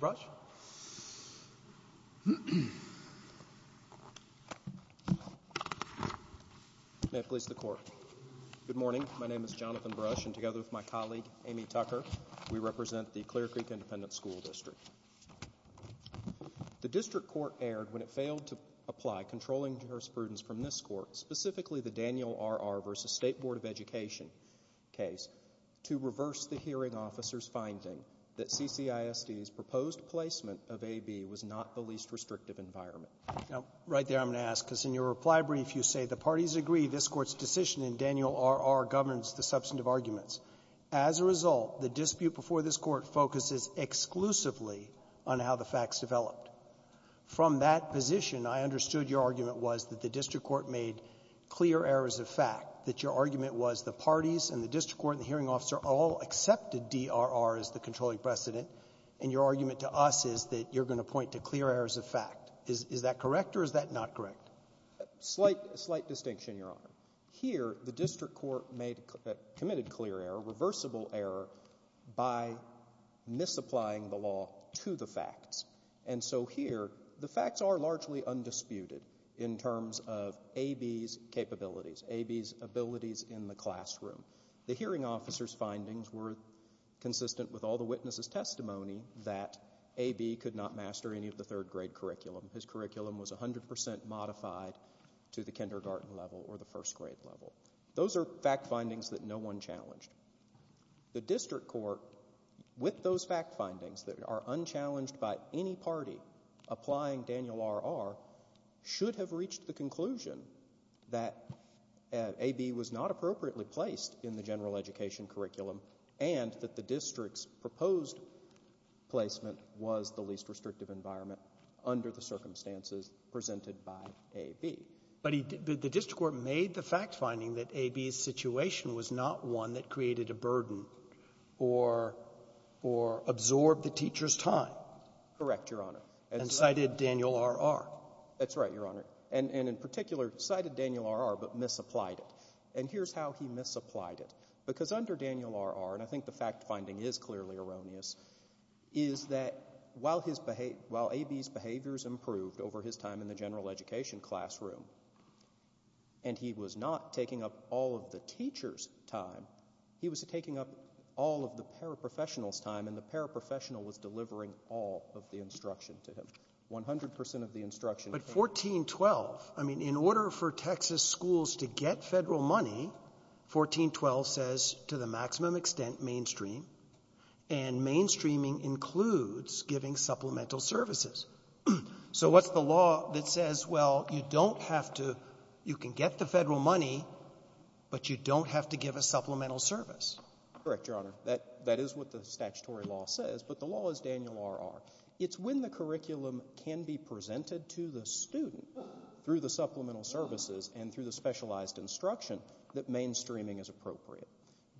Mr. Bruch? Good morning, my name is Jonathan Bruch, and together with my colleague Amy Tucker, we represent the Clear Creek Independent School District. The district court erred when it failed to apply controlling jurisprudence from this court, specifically the Daniel R.R. v. State Board of Education case, to reverse the hearing officer's finding that CCISD's proposed placement of A.B. was not the least restrictive environment. Now, right there I'm going to ask, because in your reply brief you say the parties agree this court's decision in Daniel R.R. governs the substantive arguments. As a result, the dispute before this court focuses exclusively on how the facts developed. From that position, I understood your argument was that the district court made clear errors of fact, that your argument was the parties and the district court and the hearing officer all accepted D.R.R. as the controlling precedent, and your argument to us is that you're going to point to clear errors of fact. Is that correct, or is that not correct? Slight distinction, Your Honor. Here, the district court committed clear error, reversible error, by misapplying the law to the facts. And so here, the facts are largely undisputed in terms of A.B.'s capabilities, A.B.'s abilities in the classroom. The hearing officer's findings were consistent with all the witnesses' testimony that A.B. could not master any of the third grade curriculum. His curriculum was 100% modified to the kindergarten level or the first grade level. Those are fact findings that no one challenged. The district court, with those fact findings that are unchallenged by any party applying Daniel R.R., should have reached the conclusion that A.B. was not appropriately placed in the general education curriculum and that the district's proposed placement was the least restrictive environment under the circumstances presented by A.B. But he did — but the district court made the fact finding that A.B.'s situation was not one that created a burden or — or absorbed the teacher's time. Correct, Your Honor. And cited Daniel R.R. That's right, Your Honor. And in particular, cited Daniel R.R., but misapplied it. And here's how he misapplied it. Because under Daniel R.R., and I think the fact finding is clearly erroneous, is that while his — while A.B.'s behaviors improved over his time in the general education classroom, and he was not taking up all of the teacher's time, he was taking up all of the paraprofessional's time, and the paraprofessional was delivering all of the instruction to him, 100 percent of the instruction. But 1412, I mean, in order for Texas schools to get Federal money, 1412 says to the maximum extent mainstream, and mainstreaming includes giving supplemental services. So what's the law that says, well, you don't have to — you can get the Federal money, but you don't have to give a supplemental service? Correct, Your Honor. That is what the statutory law says, but the law is Daniel R.R. It's when the curriculum can be presented to the student through the supplemental services and through the specialized instruction that mainstreaming is appropriate.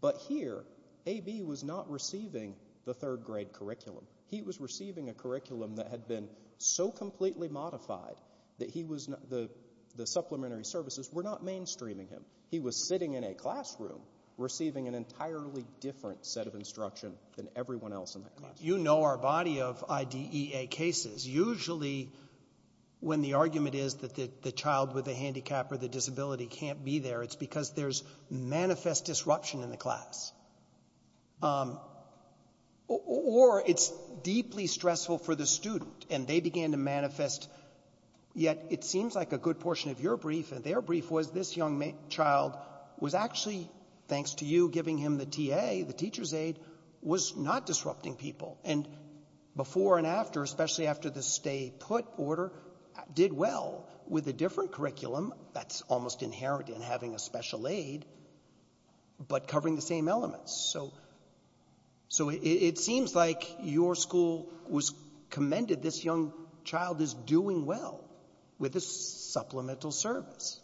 But here, A.B. was not receiving the third grade curriculum. He was receiving a curriculum that had been so completely modified that he was — the supplementary services were not mainstreaming him. He was sitting in a classroom receiving an entirely different set of instruction than everyone else in that classroom. You know our body of IDEA cases. Usually when the argument is that the child with a handicap or the disability can't be there, it's because there's manifest disruption in the class. Or it's deeply stressful for the student, and they began to manifest — yet it seems like a good portion of your brief and their brief was this young child was actually, thanks to you giving him the T.A., the teacher's aid, was not disrupting people. And before and after, especially after the stay-put order, did well with a different curriculum that's almost inherent in having a special aid, but covering the same elements. So it seems like your school commended this young child as doing well with a supplemental service.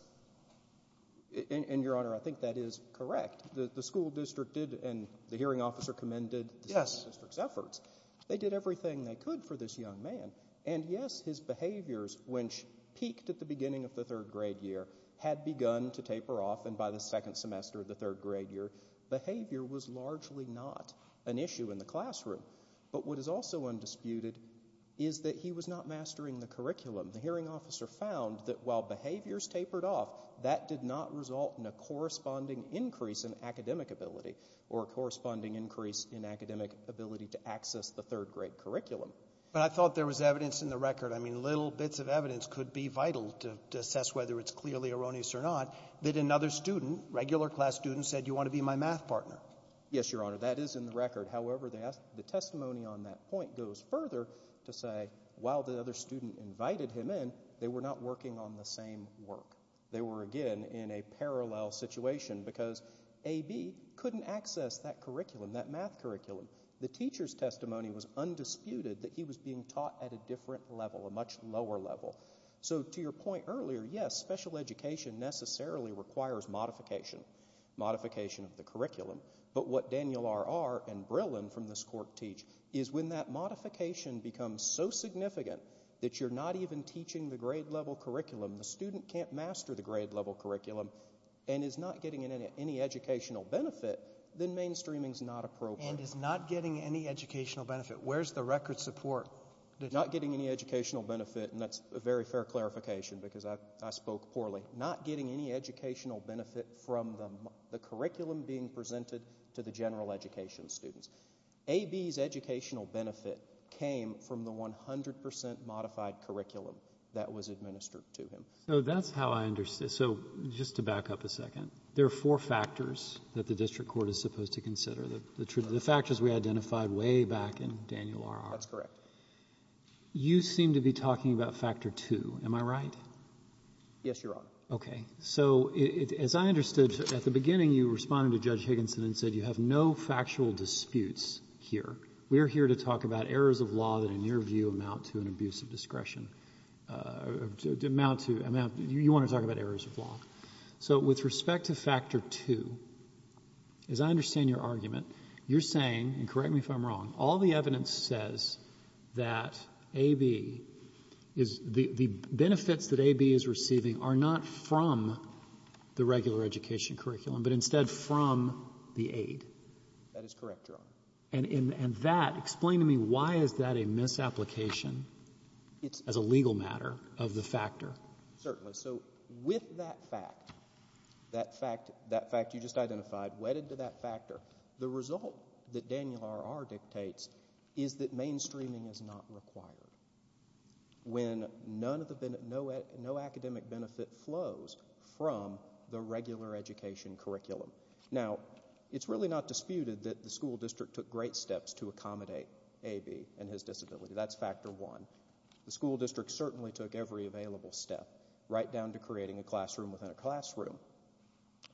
And, Your Honor, I think that is correct. The school district did, and the hearing officer commended the school district's efforts. They did everything they could for this young man. And yes, his behaviors, which peaked at the beginning of the third grade year, had begun to taper off. And by the second semester of the third grade year, behavior was largely not an issue in the classroom. But what is also undisputed is that he was not mastering the curriculum. The hearing officer found that while behaviors tapered off, that did not result in a corresponding increase in academic ability or a corresponding increase in academic ability to access the third grade curriculum. But I thought there was evidence in the record. I mean, little bits of evidence could be vital to assess whether it's clearly erroneous or not that another student, regular class student, said, you want to be my math partner. Yes, Your Honor, that is in the record. However, the testimony on that point goes further to say while the other student invited him in, they were not working on the same work. They were, again, in a parallel situation because A.B. couldn't access that curriculum, that math curriculum. The teacher's testimony was undisputed that he was being taught at a different level, a much lower level. So to your point earlier, yes, special education necessarily requires modification, modification of the curriculum. But what Daniel R.R. and Brillen from this court teach is when that modification becomes so significant that you're not even teaching the grade level curriculum, the student can't master the grade level curriculum and is not getting any educational benefit, then mainstreaming is not appropriate. And is not getting any educational benefit. Where's the record support? Not getting any educational benefit, and that's a very fair clarification because I spoke poorly. Not getting any educational benefit from the curriculum being presented to the general education students. A.B.'s educational benefit came from the 100% modified curriculum that was administered to him. So that's how I understand. So just to back up a second, there are four factors that the district court is supposed to consider. The factors we identified way back in Daniel R.R. and Brillen. That's correct. You seem to be talking about factor two. Am I right? Yes, Your Honor. Okay. So as I understood, at the beginning you responded to Judge Higginson and said you have no factual disputes here. We're here to talk about errors of law that in your view amount to an abuse of discretion. Amount to amount. You want to talk about errors of law. So with respect to factor two, as I understand your argument, you're saying, and correct me if I'm wrong, all the evidence says that A.B. is, the benefits that A.B. is receiving are not from the regular education curriculum, but instead from the aid. That is correct, Your Honor. And that, explain to me why is that a misapplication as a legal matter of the factor? Certainly. So with that fact, that fact you just identified, wedded to that factor, the result that Daniel R.R. dictates is that mainstreaming is not required. When none of the, no academic benefit flows from the regular education curriculum. Now, it's really not disputed that the school district took great steps to accommodate A.B. and his disability. That's factor one. The school district certainly took every available step, right down to creating a classroom within a classroom.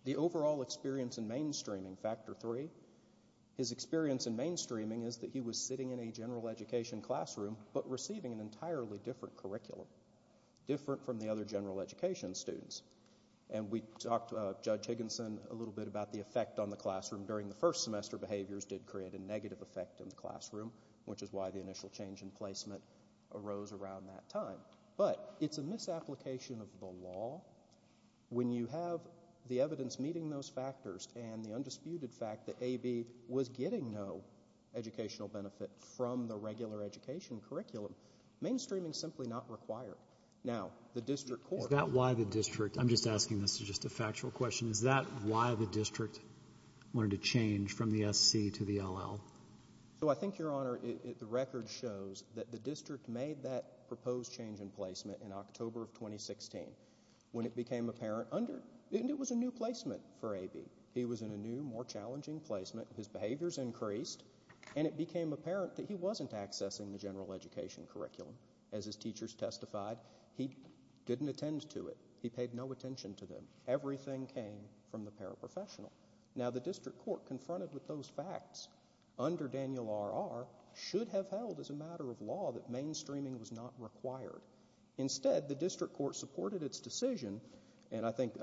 The overall experience in mainstreaming, factor three, his experience in mainstreaming is that he was sitting in a general education classroom, but receiving an entirely different curriculum, different from the other general education students. And we talked, Judge Higginson, a little bit about the effect on the classroom during the first semester. Behaviors did create a negative effect in the classroom, which is why the initial change in placement arose around that time. But it's a misapplication of the law. When you have the evidence meeting those factors, and the undisputed fact that A.B. was getting no educational benefit from the regular education curriculum, mainstreaming is simply not required. Now, the district court- Is that why the district, I'm just asking this as just a factual question, is that why the district wanted to change from the SC to the LL? So I think, Your Honor, the record shows that the district made that proposed change in October of 2016, when it became apparent under, and it was a new placement for A.B. He was in a new, more challenging placement. His behaviors increased, and it became apparent that he wasn't accessing the general education curriculum. As his teachers testified, he didn't attend to it. He paid no attention to them. Everything came from the paraprofessional. Now the district court, confronted with those facts, under Daniel R.R., should have held as a matter of law that mainstreaming was not required. Instead, the district court supported its decision, and I think,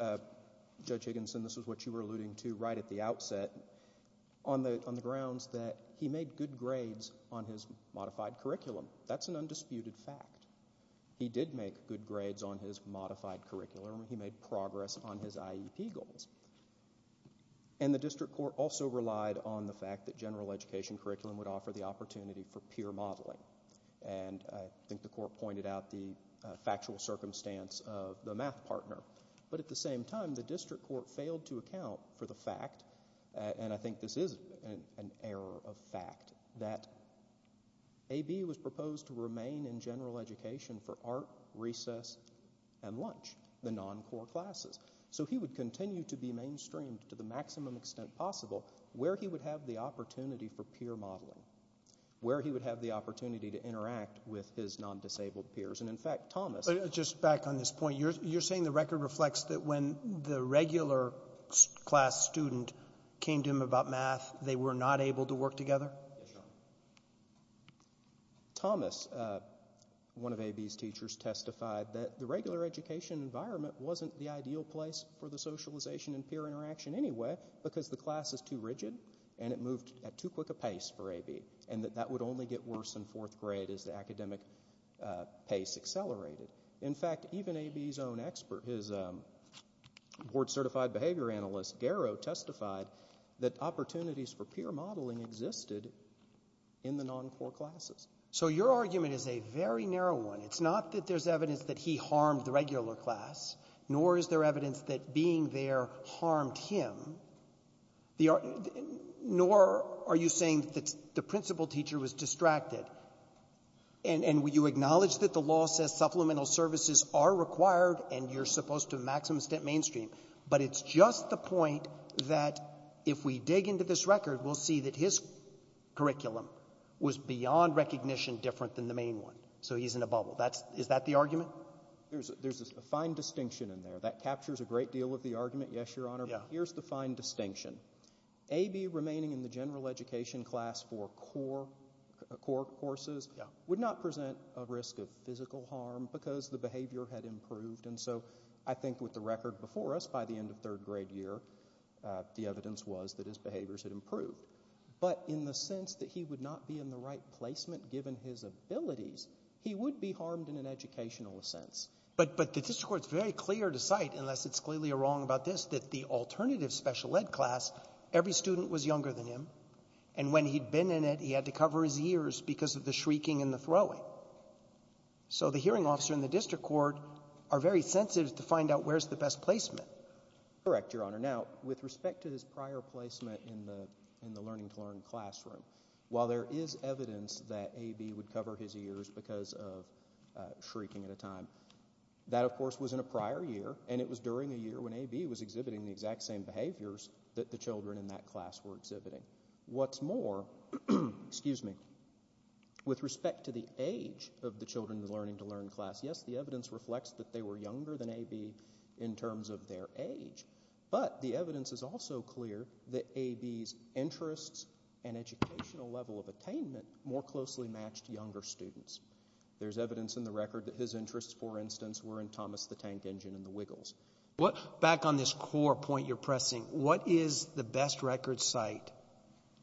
Judge Higginson, this is what you were alluding to right at the outset, on the grounds that he made good grades on his modified curriculum. That's an undisputed fact. He did make good grades on his modified curriculum. He made progress on his IEP goals. And the district court also relied on the fact that general education curriculum would offer the opportunity for peer modeling. And I think the court pointed out the factual circumstance of the math partner. But at the same time, the district court failed to account for the fact, and I think this is an error of fact, that A.B. was proposed to remain in general education for art, recess, and lunch, the non-core classes. So he would continue to be mainstreamed to the maximum extent possible where he would have the opportunity for peer modeling. Where he would have the opportunity to interact with his non-disabled peers. And in fact, Thomas... But just back on this point, you're saying the record reflects that when the regular class student came to him about math, they were not able to work together? Yes, Your Honor. Thomas, one of A.B.'s teachers, testified that the regular education environment wasn't the ideal place for the socialization and peer interaction anyway because the class was too rigid and it moved at too quick a pace for A.B. And that that would only get worse in fourth grade as the academic pace accelerated. In fact, even A.B.'s own expert, his board certified behavior analyst, Garrow, testified that opportunities for peer modeling existed in the non-core classes. So your argument is a very narrow one. It's not that there's evidence that he harmed the regular class, nor is there evidence that being there harmed him. Nor are you saying that the principal teacher was distracted, and you acknowledge that the law says supplemental services are required and you're supposed to maximum extent mainstream. But it's just the point that if we dig into this record, we'll see that his curriculum was beyond recognition different than the main one. So he's in a bubble. That's — is that the argument? There's a fine distinction in there. That captures a great deal of the argument, yes, Your Honor. Yeah. But here's the fine distinction. A.B. remaining in the general education class for core courses would not present a risk of physical harm because the behavior had improved. And so I think with the record before us, by the end of third grade year, the evidence was that his behaviors had improved. But in the sense that he would not be in the right placement given his abilities, he would be harmed in an educational sense. But the district court's very clear to cite, unless it's clearly wrong about this, that the alternative special ed class, every student was younger than him. And when he'd been in it, he had to cover his ears because of the shrieking and the throwing. So the hearing officer and the district court are very sensitive to find out where's the best placement. Correct, Your Honor. Now, with respect to his prior placement in the — in the learning-to-learn classroom, while there is evidence that A.B. would cover his ears because of shrieking at a time, that of course was in a prior year, and it was during a year when A.B. was exhibiting the exact same behaviors that the children in that class were exhibiting. What's more — excuse me — with respect to the age of the children in the learning-to-learn class, yes, the evidence reflects that they were younger than A.B. in terms of their age. But the evidence is also clear that A.B.'s interests and educational level of attainment more closely matched younger students. There's evidence in the record that his interests, for instance, were in Thomas the Tank Engine and the Wiggles. Back on this core point you're pressing, what is the best record site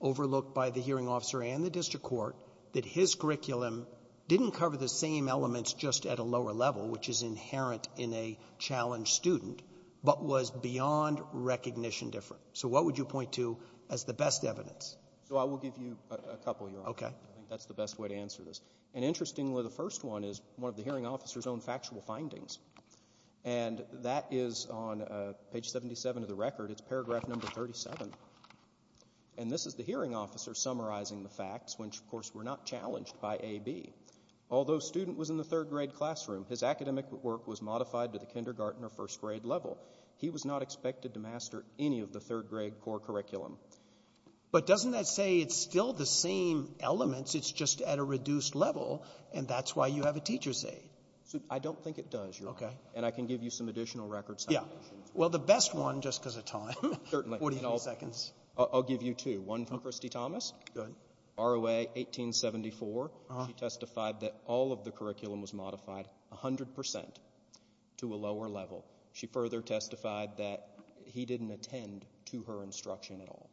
overlooked by the hearing officer and the district court that his curriculum didn't cover the same elements just at a lower level, which is inherent in a challenged student, but was beyond recognition different? So what would you point to as the best evidence? So I will give you a couple, Your Honor. Okay. I think that's the best way to answer this. And interestingly, the first one is one of the hearing officer's own factual findings. And that is on page 77 of the record. It's paragraph number 37. And this is the hearing officer summarizing the facts, which, of course, were not challenged by A.B. Although student was in the third-grade classroom, his academic work was modified to the kindergarten or first-grade level. He was not expected to master any of the third-grade core curriculum. But doesn't that say it's still the same elements? It's just at a reduced level. And that's why you have a teacher's aide. I don't think it does, Your Honor. Okay. And I can give you some additional records. Yeah. Well, the best one, just because of time. Certainly. Forty-three seconds. I'll give you two. One from Christy Thomas. Go ahead. ROA 1874. Uh-huh. She testified that all of the curriculum was modified 100% to a lower level. She further testified that he didn't attend to her instruction at all.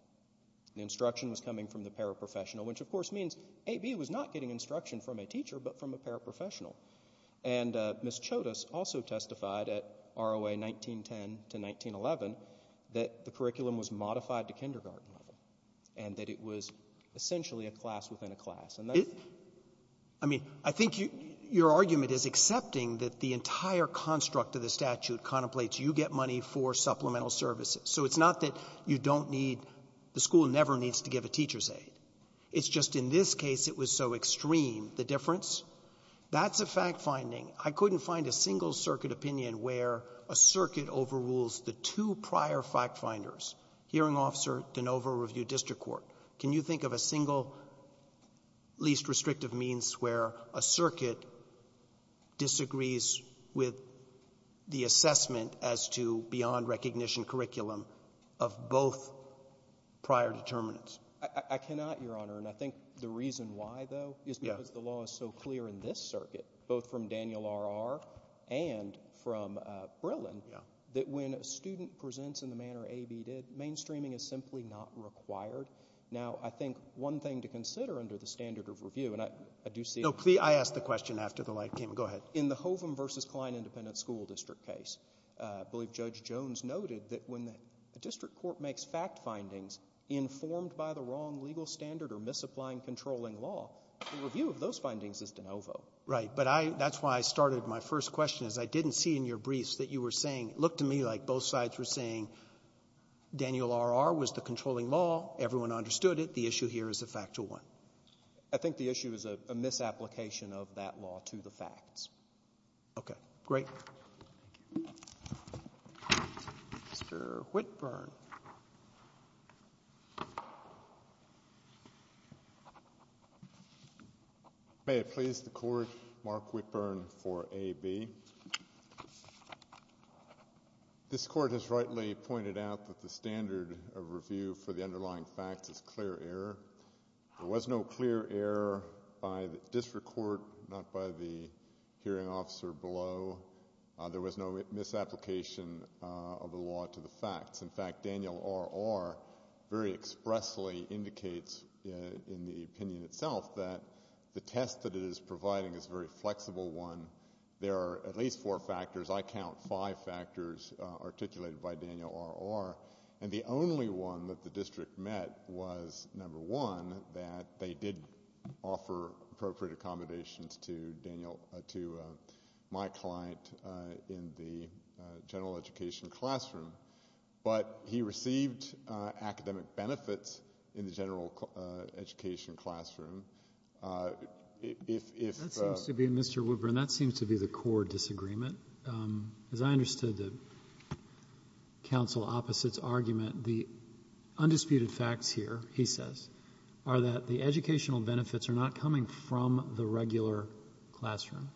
The instruction was coming from the paraprofessional, which, of course, means A.B. was not getting instruction from a teacher but from a paraprofessional. And Ms. Chodas also testified at ROA 1910 to 1911 that the curriculum was modified to kindergarten level and that it was essentially a class within a class. And that's... I mean, I think your argument is accepting that the entire construct of the statute contemplates you get money for supplemental services. So it's not that you don't need the school never needs to give a teacher's aid. It's just in this case, it was so extreme, the difference. That's a fact-finding. I couldn't find a single circuit opinion where a circuit overrules the two prior fact-finders, hearing officer, de novo review district court. Can you think of a single least restrictive means where a circuit disagrees with the assessment as to beyond recognition curriculum of both prior determinants? I cannot, Your Honor, and I think the reason why, though, is because the law is so clear in this circuit, both from Daniel R.R. and from Brillen, that when a student presents in the manner A.B. did, mainstreaming is simply not required. Now, I think one thing to consider under the standard of review, and I do see... No, please, I asked the question after the light came on. Go ahead. In the Hovum v. Kline Independent School District case, I believe Judge Jones noted that when the district court makes fact findings informed by the wrong legal standard or misapplying controlling law, the review of those findings is de novo. Right, but that's why I started my first question, is I didn't see in your briefs that you were saying... It looked to me like both sides were saying Daniel R.R. was the controlling law, everyone understood it, the issue here is a factual one. I think the issue is a misapplication of that law to the facts. Okay, great. Thank you. Mr. Whitburn. May it please the Court, Mark Whitburn for A.B. This Court has rightly pointed out that the standard of review for the underlying facts is clear error. There was no clear error by the district court, not by the hearing officer below. There was no misapplication of the law to the facts. In fact, Daniel R.R. very expressly indicates in the opinion itself that the test that it is providing is a very flexible one. There are at least four factors, I count five factors articulated by Daniel R.R., and the only one that the district met was, number one, that they did offer appropriate accommodations to my client in the general education classroom, but he received academic benefits in the general education classroom. That seems to be, Mr. Whitburn, that seems to be the core disagreement. As I understood the counsel opposite's argument, the undisputed facts here, he says, are that the educational benefits are not coming from the regular classroom.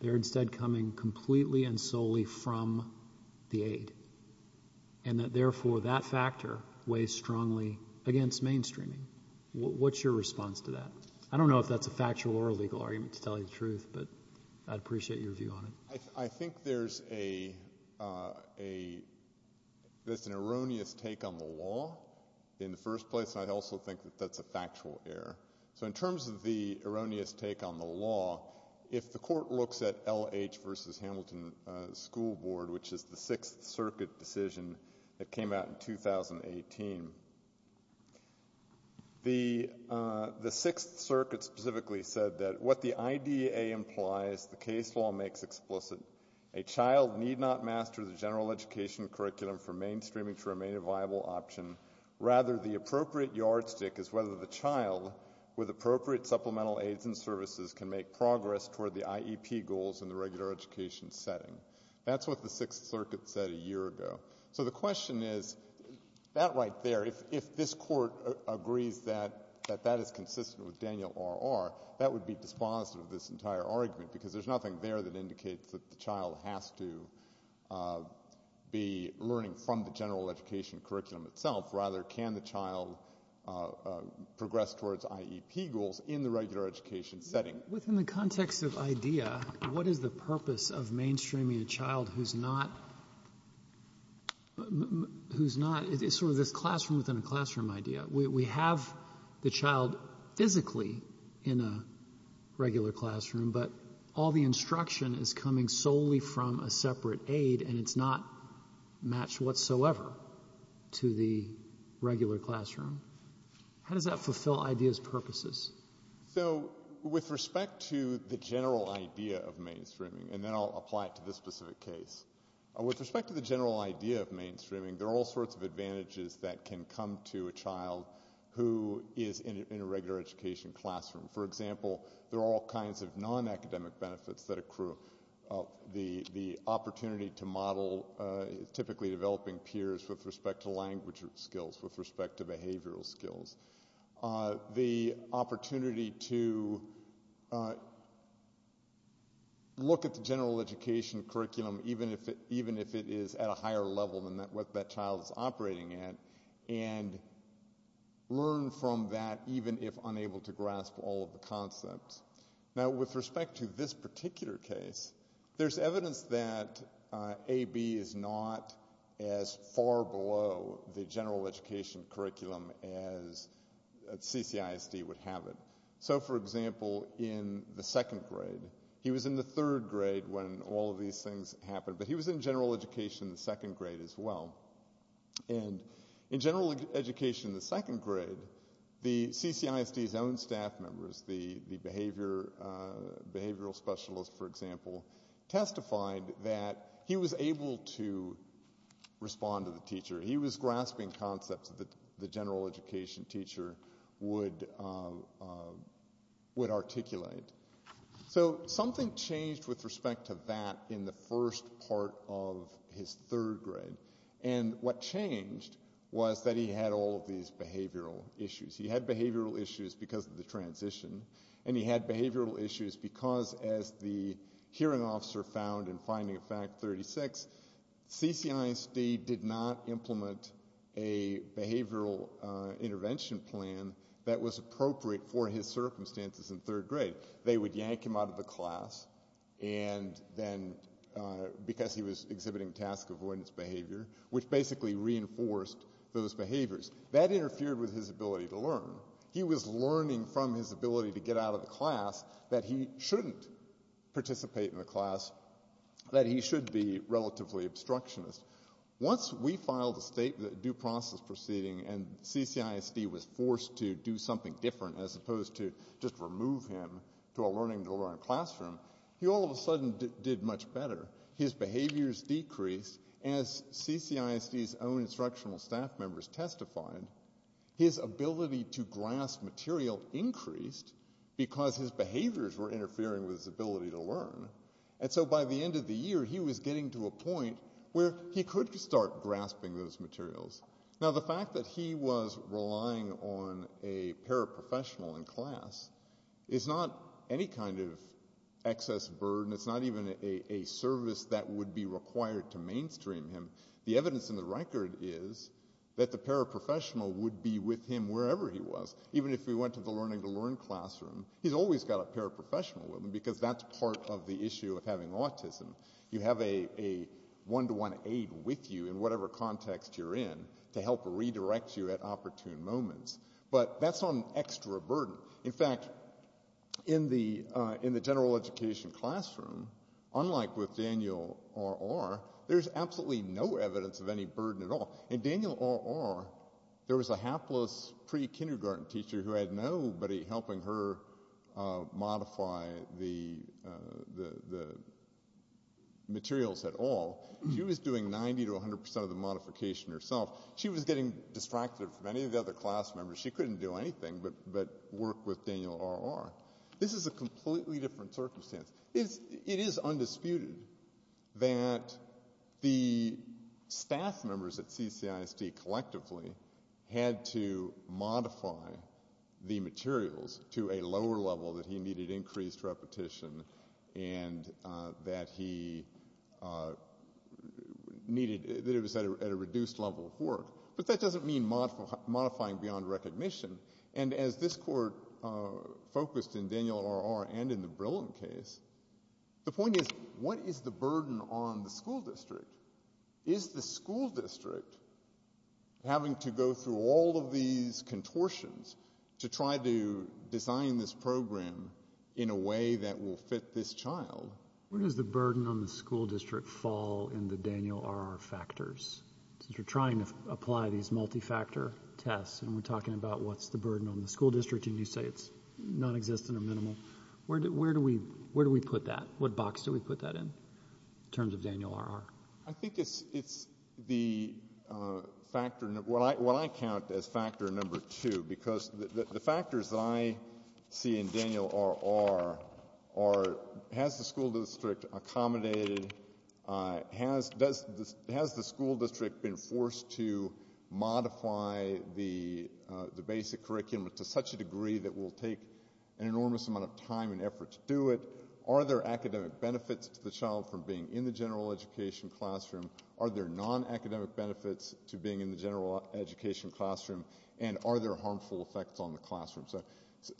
They're instead coming completely and solely from the aid, and that, therefore, that factor weighs strongly against mainstreaming. What's your response to that? I don't know if that's a factual or a legal argument, to tell you the truth, but I'd appreciate your view on it. I think there's an erroneous take on the law in the first place, and I also think that that's a factual error. So in terms of the erroneous take on the law, if the court looks at L.H. v. Hamilton School Board, which is the Sixth Circuit decision that came out in 2018, the Sixth Circuit specifically said that what the IDEA implies, the case law makes explicit, a child need not master the general education curriculum for mainstreaming to remain a viable option. Rather, the appropriate yardstick is whether the child, with appropriate supplemental aids and services, can make progress toward the IEP goals in the regular education setting. That's what the Sixth Circuit said a year ago. So the question is, that right there, if this court agrees that that is consistent with the annual R.R., that would be dispositive of this entire argument, because there's nothing there that indicates that the child has to be learning from the general education curriculum itself. Rather, can the child progress towards IEP goals in the regular education setting? Within the context of IDEA, what is the purpose of mainstreaming a child who's not, who's not, it's sort of this classroom within a classroom idea. We have the child physically in a regular classroom, but all the instruction is coming solely from a separate aid, and it's not matched whatsoever to the regular classroom. How does that fulfill IDEA's purposes? So with respect to the general idea of mainstreaming, and then I'll apply it to this specific case, with respect to the general idea of mainstreaming, there are all sorts of advantages that can come to a child who is in a regular education classroom. For example, there are all kinds of non-academic benefits that accrue. The opportunity to model typically developing peers with respect to language skills, with respect to behavioral skills. The opportunity to look at the general education curriculum, even if it is at a higher level than what that child is operating at, and learn from that, even if unable to grasp all of the concepts. Now with respect to this particular case, there's evidence that AB is not as far below the general education curriculum as CCISD would have it. So for example, in the second grade, he was in the third grade when all of these things happened, but he was in general education in the second grade as well. And in general education in the second grade, the CCISD's own staff members, the behavioral specialists for example, testified that he was able to respond to the teacher. He was grasping concepts that the general education teacher would articulate. So something changed with respect to that in the first part of his third grade. And what changed was that he had all of these behavioral issues. He had behavioral issues because of the transition, and he had behavioral issues because as the hearing officer found in Finding a Fact 36, CCISD did not implement a behavioral intervention plan that was appropriate for his circumstances in third grade. They would yank him out of the class, and then because he was exhibiting task avoidance behavior, which basically reinforced those behaviors. That interfered with his ability to learn. He was learning from his ability to get out of the class that he shouldn't participate in the class, that he should be relatively obstructionist. Once we filed a state due process proceeding and CCISD was forced to do something different as opposed to just remove him to a learning to learn classroom, he all of a sudden did much better. His behaviors decreased as CCISD's own instructional staff members testified. His ability to grasp material increased because his behaviors were interfering with his ability to learn. And so by the end of the year, he was getting to a point where he could start grasping those materials. Now, the fact that he was relying on a paraprofessional in class is not any kind of excess burden. It's not even a service that would be required to mainstream him. The evidence in the record is that the paraprofessional would be with him wherever he was. Even if he went to the learning to learn classroom, he's always got a paraprofessional with him because that's part of the issue of having autism. You have a one-to-one aid with you in whatever context you're in to help redirect you at opportune moments. But that's not an extra burden. In fact, in the general education classroom, unlike with Daniel R.R., there's absolutely no evidence of any burden at all. In Daniel R.R., there was a hapless pre-kindergarten teacher who had nobody helping her modify the materials at all. She was doing 90 to 100 percent of the modification herself. She was getting distracted from any of the other class members. She couldn't do anything but work with Daniel R.R. This is a completely different circumstance. It is undisputed that the staff members at CCISD collectively had to modify the materials to a lower level that he needed increased repetition and that he needed, that it was at a reduced level of work. But that doesn't mean modifying beyond recognition. And as this court focused in Daniel R.R. and in the Brillen case, the point is, what is the burden on the school district? Is the school district having to go through all of these contortions to try to design this program in a way that will fit this child? Where does the burden on the school district fall in the Daniel R.R. factors? Since you're trying to apply these multi-factor tests and we're talking about what's the burden on the school district and you say it's nonexistent or minimal, where do we put that? What box do we put that in in terms of Daniel R.R.? I think it's the factor, what I count as factor number two, because the factors that I see in Daniel R.R. are, has the school district accommodated, has the school district been forced to modify the basic curriculum to such a degree that will take an enormous amount of time and effort to do it? Are there academic benefits to the child from being in the general education classroom? Are there non-academic benefits to being in the general education classroom? And are there harmful effects on the classroom,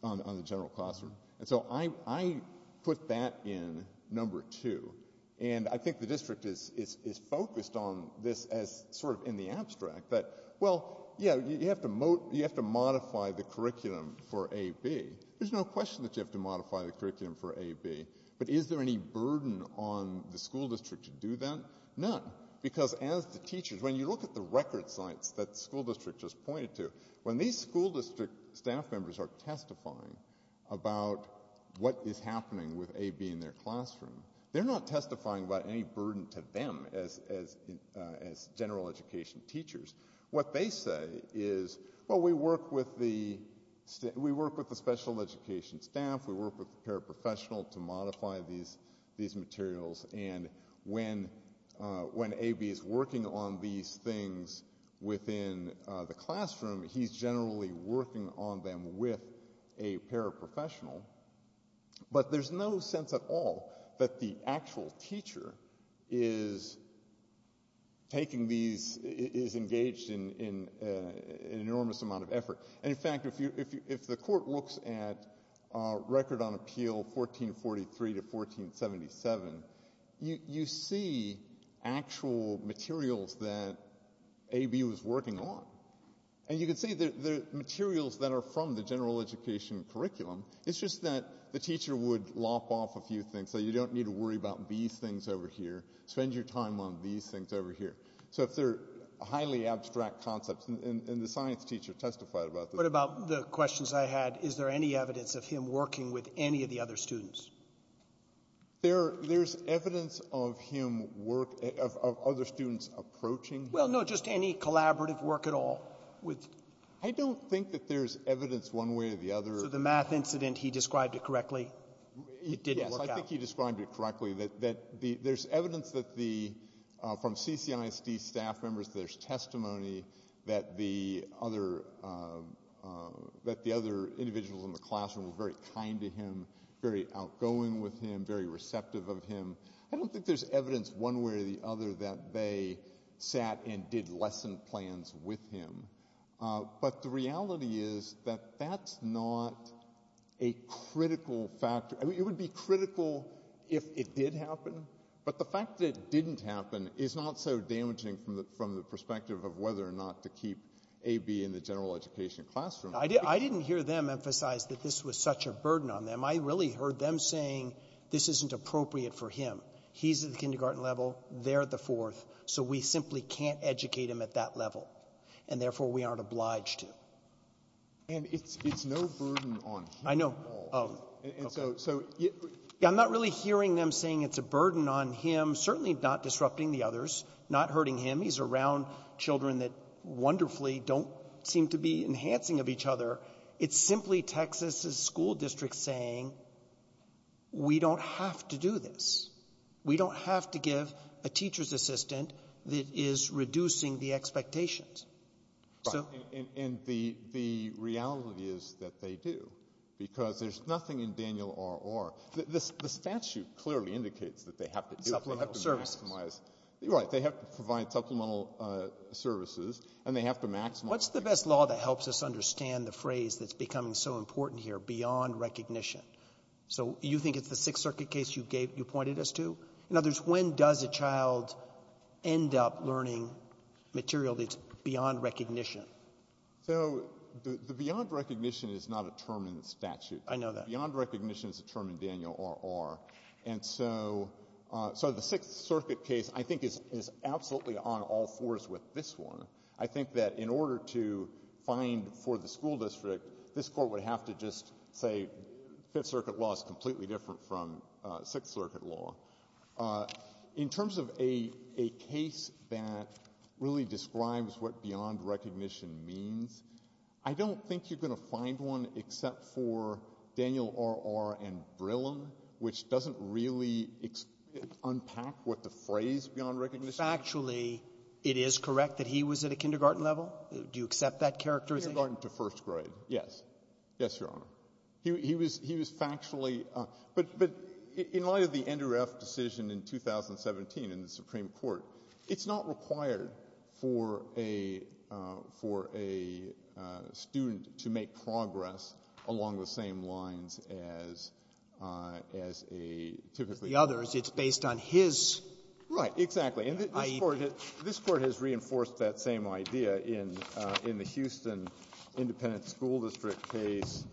on the general classroom? And so I put that in number two. And I think the district is focused on this as sort of in the abstract that, well, yeah, you have to modify the curriculum for AB. There's no question that you have to modify the curriculum for AB. But is there any burden on the school district to do that? None. Because as the teachers, when you look at the record sites that the school district just pointed to, when these school district staff members are testifying about what is happening with AB in their classroom, they're not testifying about any burden to them as general education teachers. What they say is, well, we work with the special education staff, we work with the paraprofessional to modify these materials, and when AB is working on these things within the classroom, he's generally working on them with a paraprofessional. But there's no sense at all that the actual teacher is taking these, is engaging with in an enormous amount of effort. And in fact, if the court looks at record on appeal 1443 to 1477, you see actual materials that AB was working on. And you can see the materials that are from the general education curriculum. It's just that the teacher would lop off a few things, say you don't need to worry about these things over here, spend your time on these things over here. So if they're highly abstract concepts, and the science teacher testified about this. What about the questions I had, is there any evidence of him working with any of the other students? There's evidence of him work, of other students approaching him. Well, no, just any collaborative work at all. I don't think that there's evidence one way or the other. So the math incident, he described it correctly? Yes, I think he described it correctly. That there's evidence from CCISD staff members, there's testimony that the other individuals in the classroom were very kind to him, very outgoing with him, very receptive of him. I don't think there's evidence one way or the other that they sat and did lesson plans with him. But the reality is that that's not a critical factor. It would be critical if it did happen. But the fact that it didn't happen is not so damaging from the perspective of whether or not to keep A.B. in the general education classroom. I didn't hear them emphasize that this was such a burden on them. I really heard them saying this isn't appropriate for him. He's at the kindergarten level, they're at the fourth, so we simply can't educate him at that level, and therefore we aren't obliged to. And it's no burden on him at all. Oh, okay. And so I'm not really hearing them saying it's a burden on him, certainly not disrupting the others, not hurting him. He's around children that wonderfully don't seem to be enhancing of each other. It's simply Texas's school district saying we don't have to do this. We don't have to give a teacher's assistant that is reducing the expectations. Right. And the reality is that they do, because there's nothing in Daniel R.R. The statute clearly indicates that they have to do it. Supplemental services. Right. They have to provide supplemental services, and they have to maximize. What's the best law that helps us understand the phrase that's becoming so important here, beyond recognition? So you think it's the Sixth Circuit case you pointed us to? In other words, when does a child end up learning material that's beyond recognition? So the beyond recognition is not a term in the statute. I know that. Beyond recognition is a term in Daniel R.R. And so the Sixth Circuit case, I think, is absolutely on all fours with this one. I think that in order to find for the school district, this Court would have to just say Fifth Circuit law is completely different from Sixth Circuit law. In terms of a case that really describes what beyond recognition means, I don't think you're going to find one except for Daniel R.R. and Brillum, which doesn't really unpack what the phrase beyond recognition is. Actually, it is correct that he was at a kindergarten level. Do you accept that characterization? Kindergarten to first grade, yes. Yes, Your Honor. He was factually up. But in light of the NREF decision in 2017 in the Supreme Court, it's not required for a student to make progress along the same lines as a typically child. The others, it's based on his idea. Right. Exactly. And this Court has reinforced that same idea in the Houston Independent School District case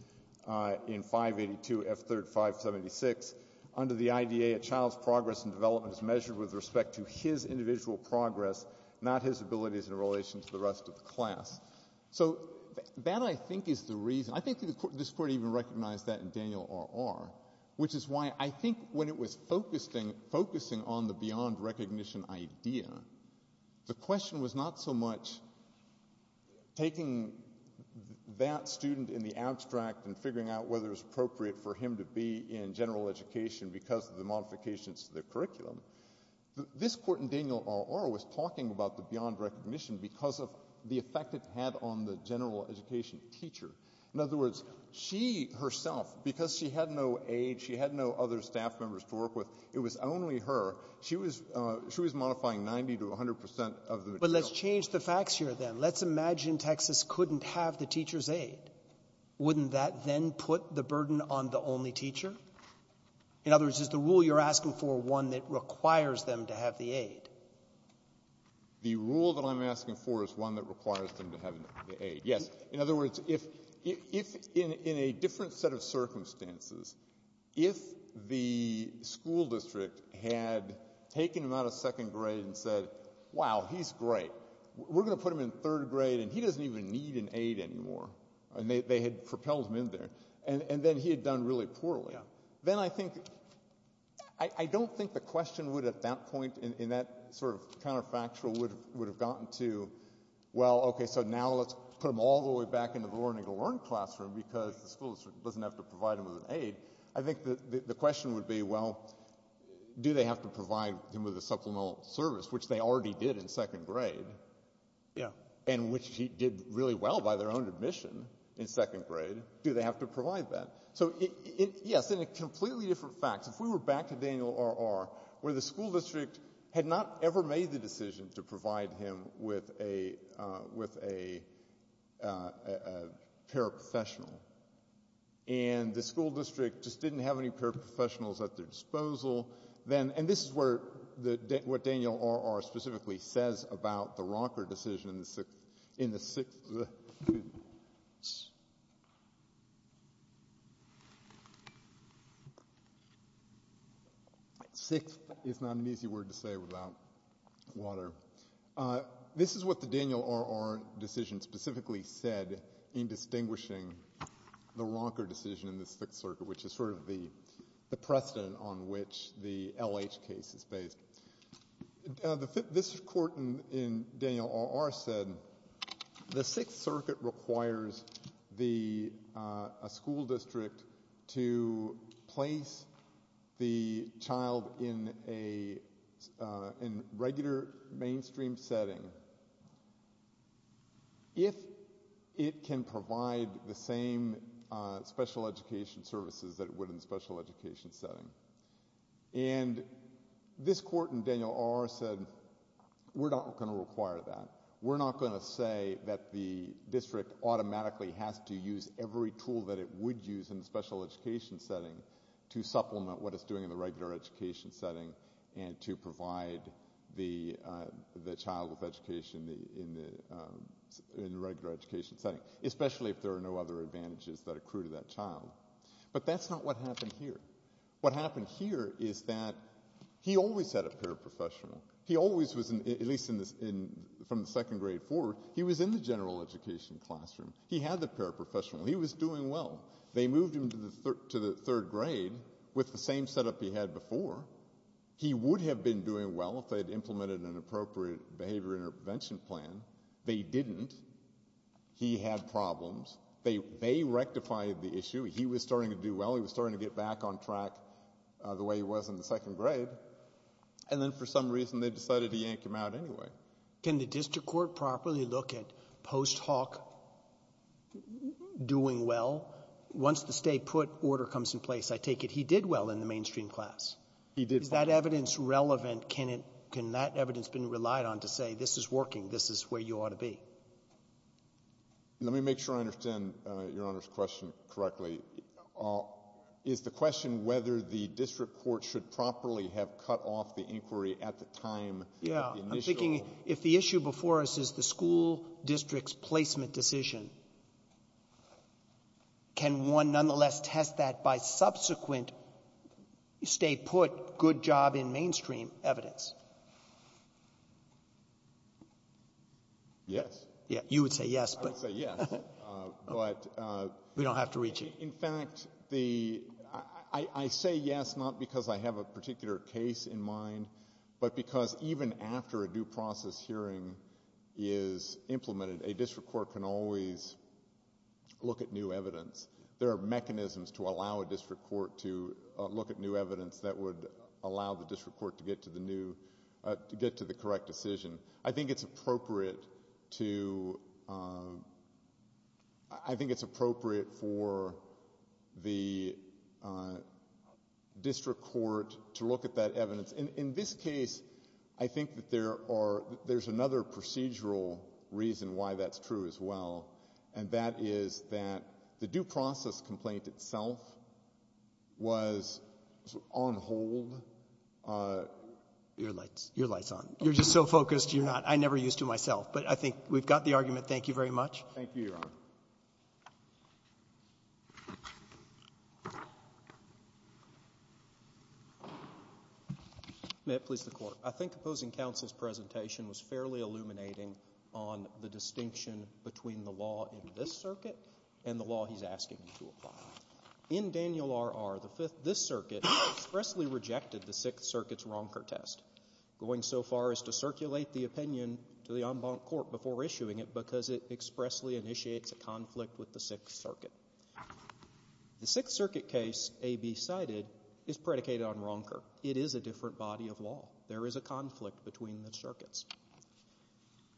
in 582 F3rd 576. Under the IDA, a child's progress and development is measured with respect to his individual progress, not his abilities in relation to the rest of the class. So that, I think, is the reason. I think this Court even recognized that in Daniel R.R., which is why I think when it was focusing on the beyond recognition idea, the question was not so much taking that student in the abstract and figuring out whether it was appropriate for him to be in general education because of the modifications to the curriculum. This Court in Daniel R.R. was talking about the beyond recognition because of the effect it had on the general education teacher. In other words, she herself, because she had no age, she had no other staff members to work with, it was only her, she was modifying 90% to 100% of the material. But let's change the facts here, then. Let's imagine Texas couldn't have the teacher's aid. Wouldn't that then put the burden on the only teacher? In other words, is the rule you're asking for one that requires them to have the aid? The rule that I'm asking for is one that requires them to have the aid, yes. In other words, if in a different set of circumstances, if the school district had taken him out of second grade and said, wow, he's great, we're going to put him in third grade, and he doesn't even need an aid anymore. And they had propelled him in there. And then he had done really poorly. Then I think, I don't think the question would at that point, in that sort of counterfactual, would have gotten to, well, OK, so now let's put him all the way back into the learning to learn classroom, because the school district doesn't have to provide him with an aid. I think the question would be, well, do they have to provide him with a supplemental service, which they already did in second grade, and which he did really well by their own admission in second grade? Do they have to provide that? So yes, in a completely different fact. If we were back to Daniel R.R., where the school district had not ever made the decision to provide him with a paraprofessional, and the school district just didn't have any paraprofessionals at their disposal, then, and this is what Daniel R.R. specifically says about the rocker decision in the sixth, in the sixth, excuse me, sixth is not an easy word to say without water. This is what the Daniel R.R. decision specifically said in distinguishing the rocker decision in the sixth circuit, which is sort of the precedent on which the L.H. case is based. Now, this court in Daniel R.R. said, the sixth circuit requires a school district to place the child in a regular mainstream setting if it can provide the same special education services that it would in a special education setting. And this court in Daniel R.R. said, we're not going to require that. We're not going to say that the district automatically has to use every tool that it would use in the special education setting to supplement what it's doing in the regular education setting and to provide the child with education in the regular education setting, especially if there are no other advantages that accrue to that child. But that's not what happened here. What happened here is that he always had a paraprofessional. He always was, at least from the second grade forward, he was in the general education classroom. He had the paraprofessional. He was doing well. They moved him to the third grade with the same setup he had before. He would have been doing well if they had implemented an appropriate behavior intervention plan. They didn't. He had problems. They rectified the issue. He was starting to do well. He was starting to get back on track the way he was in the second grade. And then for some reason, they decided to yank him out anyway. Can the district court properly look at post hoc doing well? Once the stay put order comes in place, I take it he did well in the mainstream class. He did well. Is that evidence relevant? Can that evidence been relied on to say, this is working. This is where you ought to be. Let me make sure I understand Your Honor's question correctly. Is the question whether the district court should properly have cut off the inquiry at the time of the initial ---- Yeah. I'm thinking if the issue before us is the school district's placement decision, can one nonetheless test that by subsequent stay put, good job in mainstream evidence? Yes. You would say yes, but we don't have to reach you. In fact, I say yes not because I have a particular case in mind, but because even after a due process hearing is implemented, a district court can always look at new evidence. There are mechanisms to allow a district court to look at new evidence that would allow the district court to get to the correct decision. I think it's appropriate for the district court to look at that evidence. In this case, I think that there's another procedural reason why that's true as well, and that is that the due process complaint itself was on hold. Your light's on. You're just so focused, you're not ---- I'm never used to myself. But I think we've got the argument. Thank you very much. Thank you, Your Honor. May it please the Court. I think opposing counsel's presentation was fairly illuminating on the distinction between the law in this circuit and the law he's asking to apply. In Daniel R.R., the Fifth ---- this circuit expressly rejected the Sixth Circuit's Ronker test, going so far as to circulate the opinion to the en banc court before issuing it because it expressly initiates a conflict with the Sixth Circuit. The Sixth Circuit case, A.B. cited, is predicated on Ronker. It is a different body of law. There is a conflict between the circuits.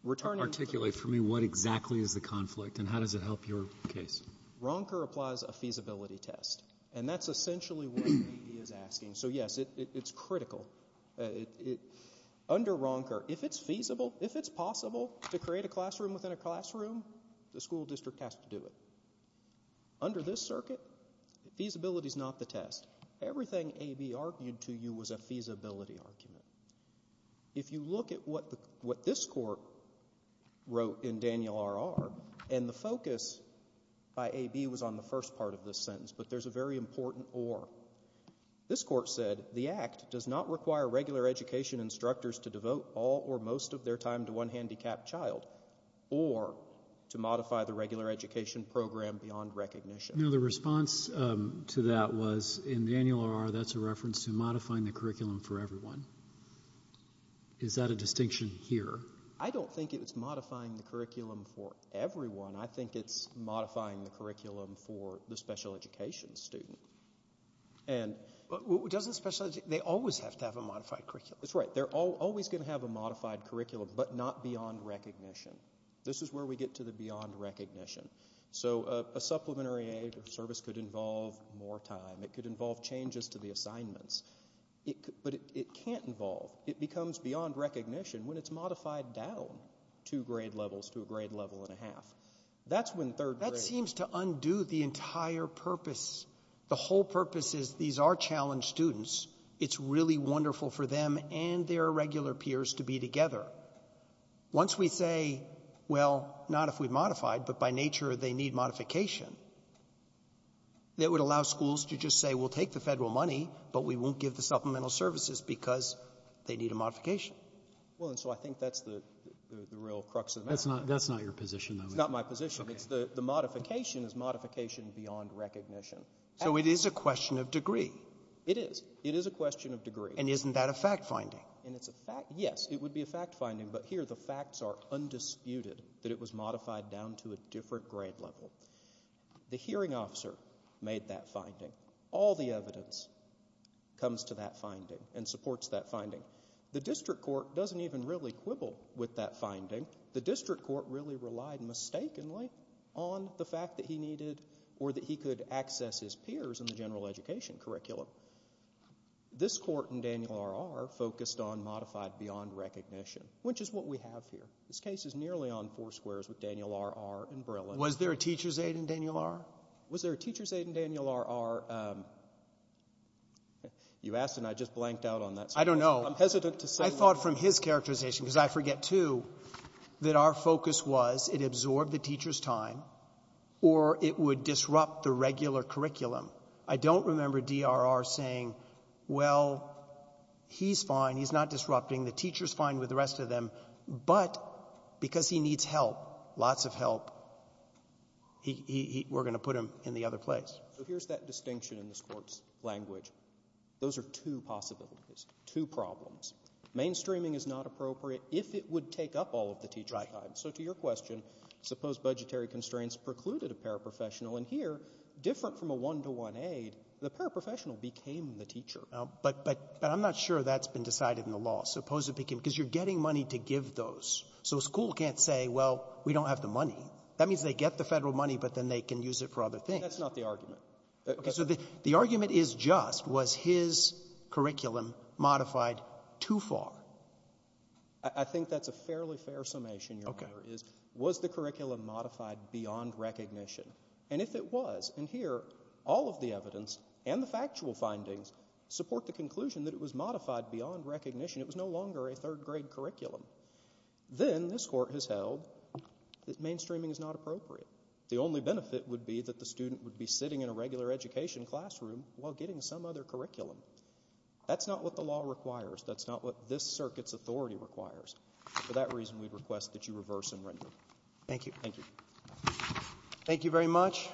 Returning to the ---- Articulate for me what exactly is the conflict, and how does it help your case? Ronker applies a feasibility test, and that's essentially what A.B. is asking. So, yes, it's critical. Under Ronker, if it's feasible, if it's possible to create a classroom within a classroom, the school district has to do it. Under this circuit, feasibility's not the test. Everything A.B. argued to you was a feasibility argument. If you look at what this court wrote in Daniel R.R., and the focus by A.B. was on the first part of this sentence, but there's a very important or. This court said the act does not require regular education instructors to devote all or most of their time to one handicapped child or to modify the regular education program beyond recognition. No, the response to that was, in Daniel R.R., that's a reference to modifying the curriculum for everyone. Is that a distinction here? I don't think it's modifying the curriculum for everyone. I think it's modifying the curriculum for the special education student. Doesn't special education, they always have to have a modified curriculum. That's right. They're always going to have a modified curriculum, but not beyond recognition. This is where we get to the beyond recognition. So a supplementary aid or service could involve more time. It could involve changes to the assignments. But it can't involve. It becomes beyond recognition when it's modified down two grade levels to a grade level and a half. That's when third grade. That seems to undo the entire purpose. The whole purpose is these are challenged students. It's really wonderful for them and their regular peers to be together. Once we say, well, not if we modify it, but by nature they need modification, that would allow schools to just say, well, take the federal money, but we won't give the supplemental services because they need a modification. Well, and so I think that's the real crux of the matter. That's not your position. It's not my position. The modification is modification beyond recognition. So it is a question of degree. It is. It is a question of degree. And isn't that a fact finding? Yes, it would be a fact finding. But here the facts are undisputed that it was modified down to a different grade level. The hearing officer made that finding. All the evidence comes to that finding and supports that finding. The district court doesn't even really quibble with that finding. The district court really relied mistakenly on the fact that he needed or that he could access his peers in the general education curriculum. This court in Daniel R.R. focused on modified beyond recognition, which is what we have here. This case is nearly on four squares with Daniel R.R. and Breland. Was there a teacher's aide in Daniel R.? Was there a teacher's aide in Daniel R.R.? You asked and I just blanked out on that. I don't know. I'm hesitant to say. I thought from his characterization, because I forget too, that our focus was it absorbed the teacher's time or it would disrupt the regular curriculum. I don't remember D.R.R. saying, well, he's fine, he's not disrupting, the teacher's fine with the rest of them. But because he needs help, lots of help, we're going to put him in the other place. So here's that distinction in this Court's language. Those are two possibilities, two problems. Mainstreaming is not appropriate if it would take up all of the teacher's time. Right. So to your question, suppose budgetary constraints precluded a paraprofessional, and here, different from a one-to-one aide, the paraprofessional became the teacher. But I'm not sure that's been decided in the law. Because you're getting money to give those. So a school can't say, well, we don't have the money. That means they get the Federal money, but then they can use it for other things. That's not the argument. Okay. So the argument is just, was his curriculum modified too far? I think that's a fairly fair summation, Your Honor, is was the curriculum modified beyond recognition? And if it was, and here, all of the evidence and the factual findings support the conclusion that it was modified beyond recognition. It was no longer a third-grade curriculum. Then this Court has held that mainstreaming is not appropriate. The only benefit would be that the student would be sitting in a regular education classroom while getting some other curriculum. That's not what the law requires. That's not what this Circuit's authority requires. For that reason, we'd request that you reverse and render. Thank you. Thank you. Thank you very much.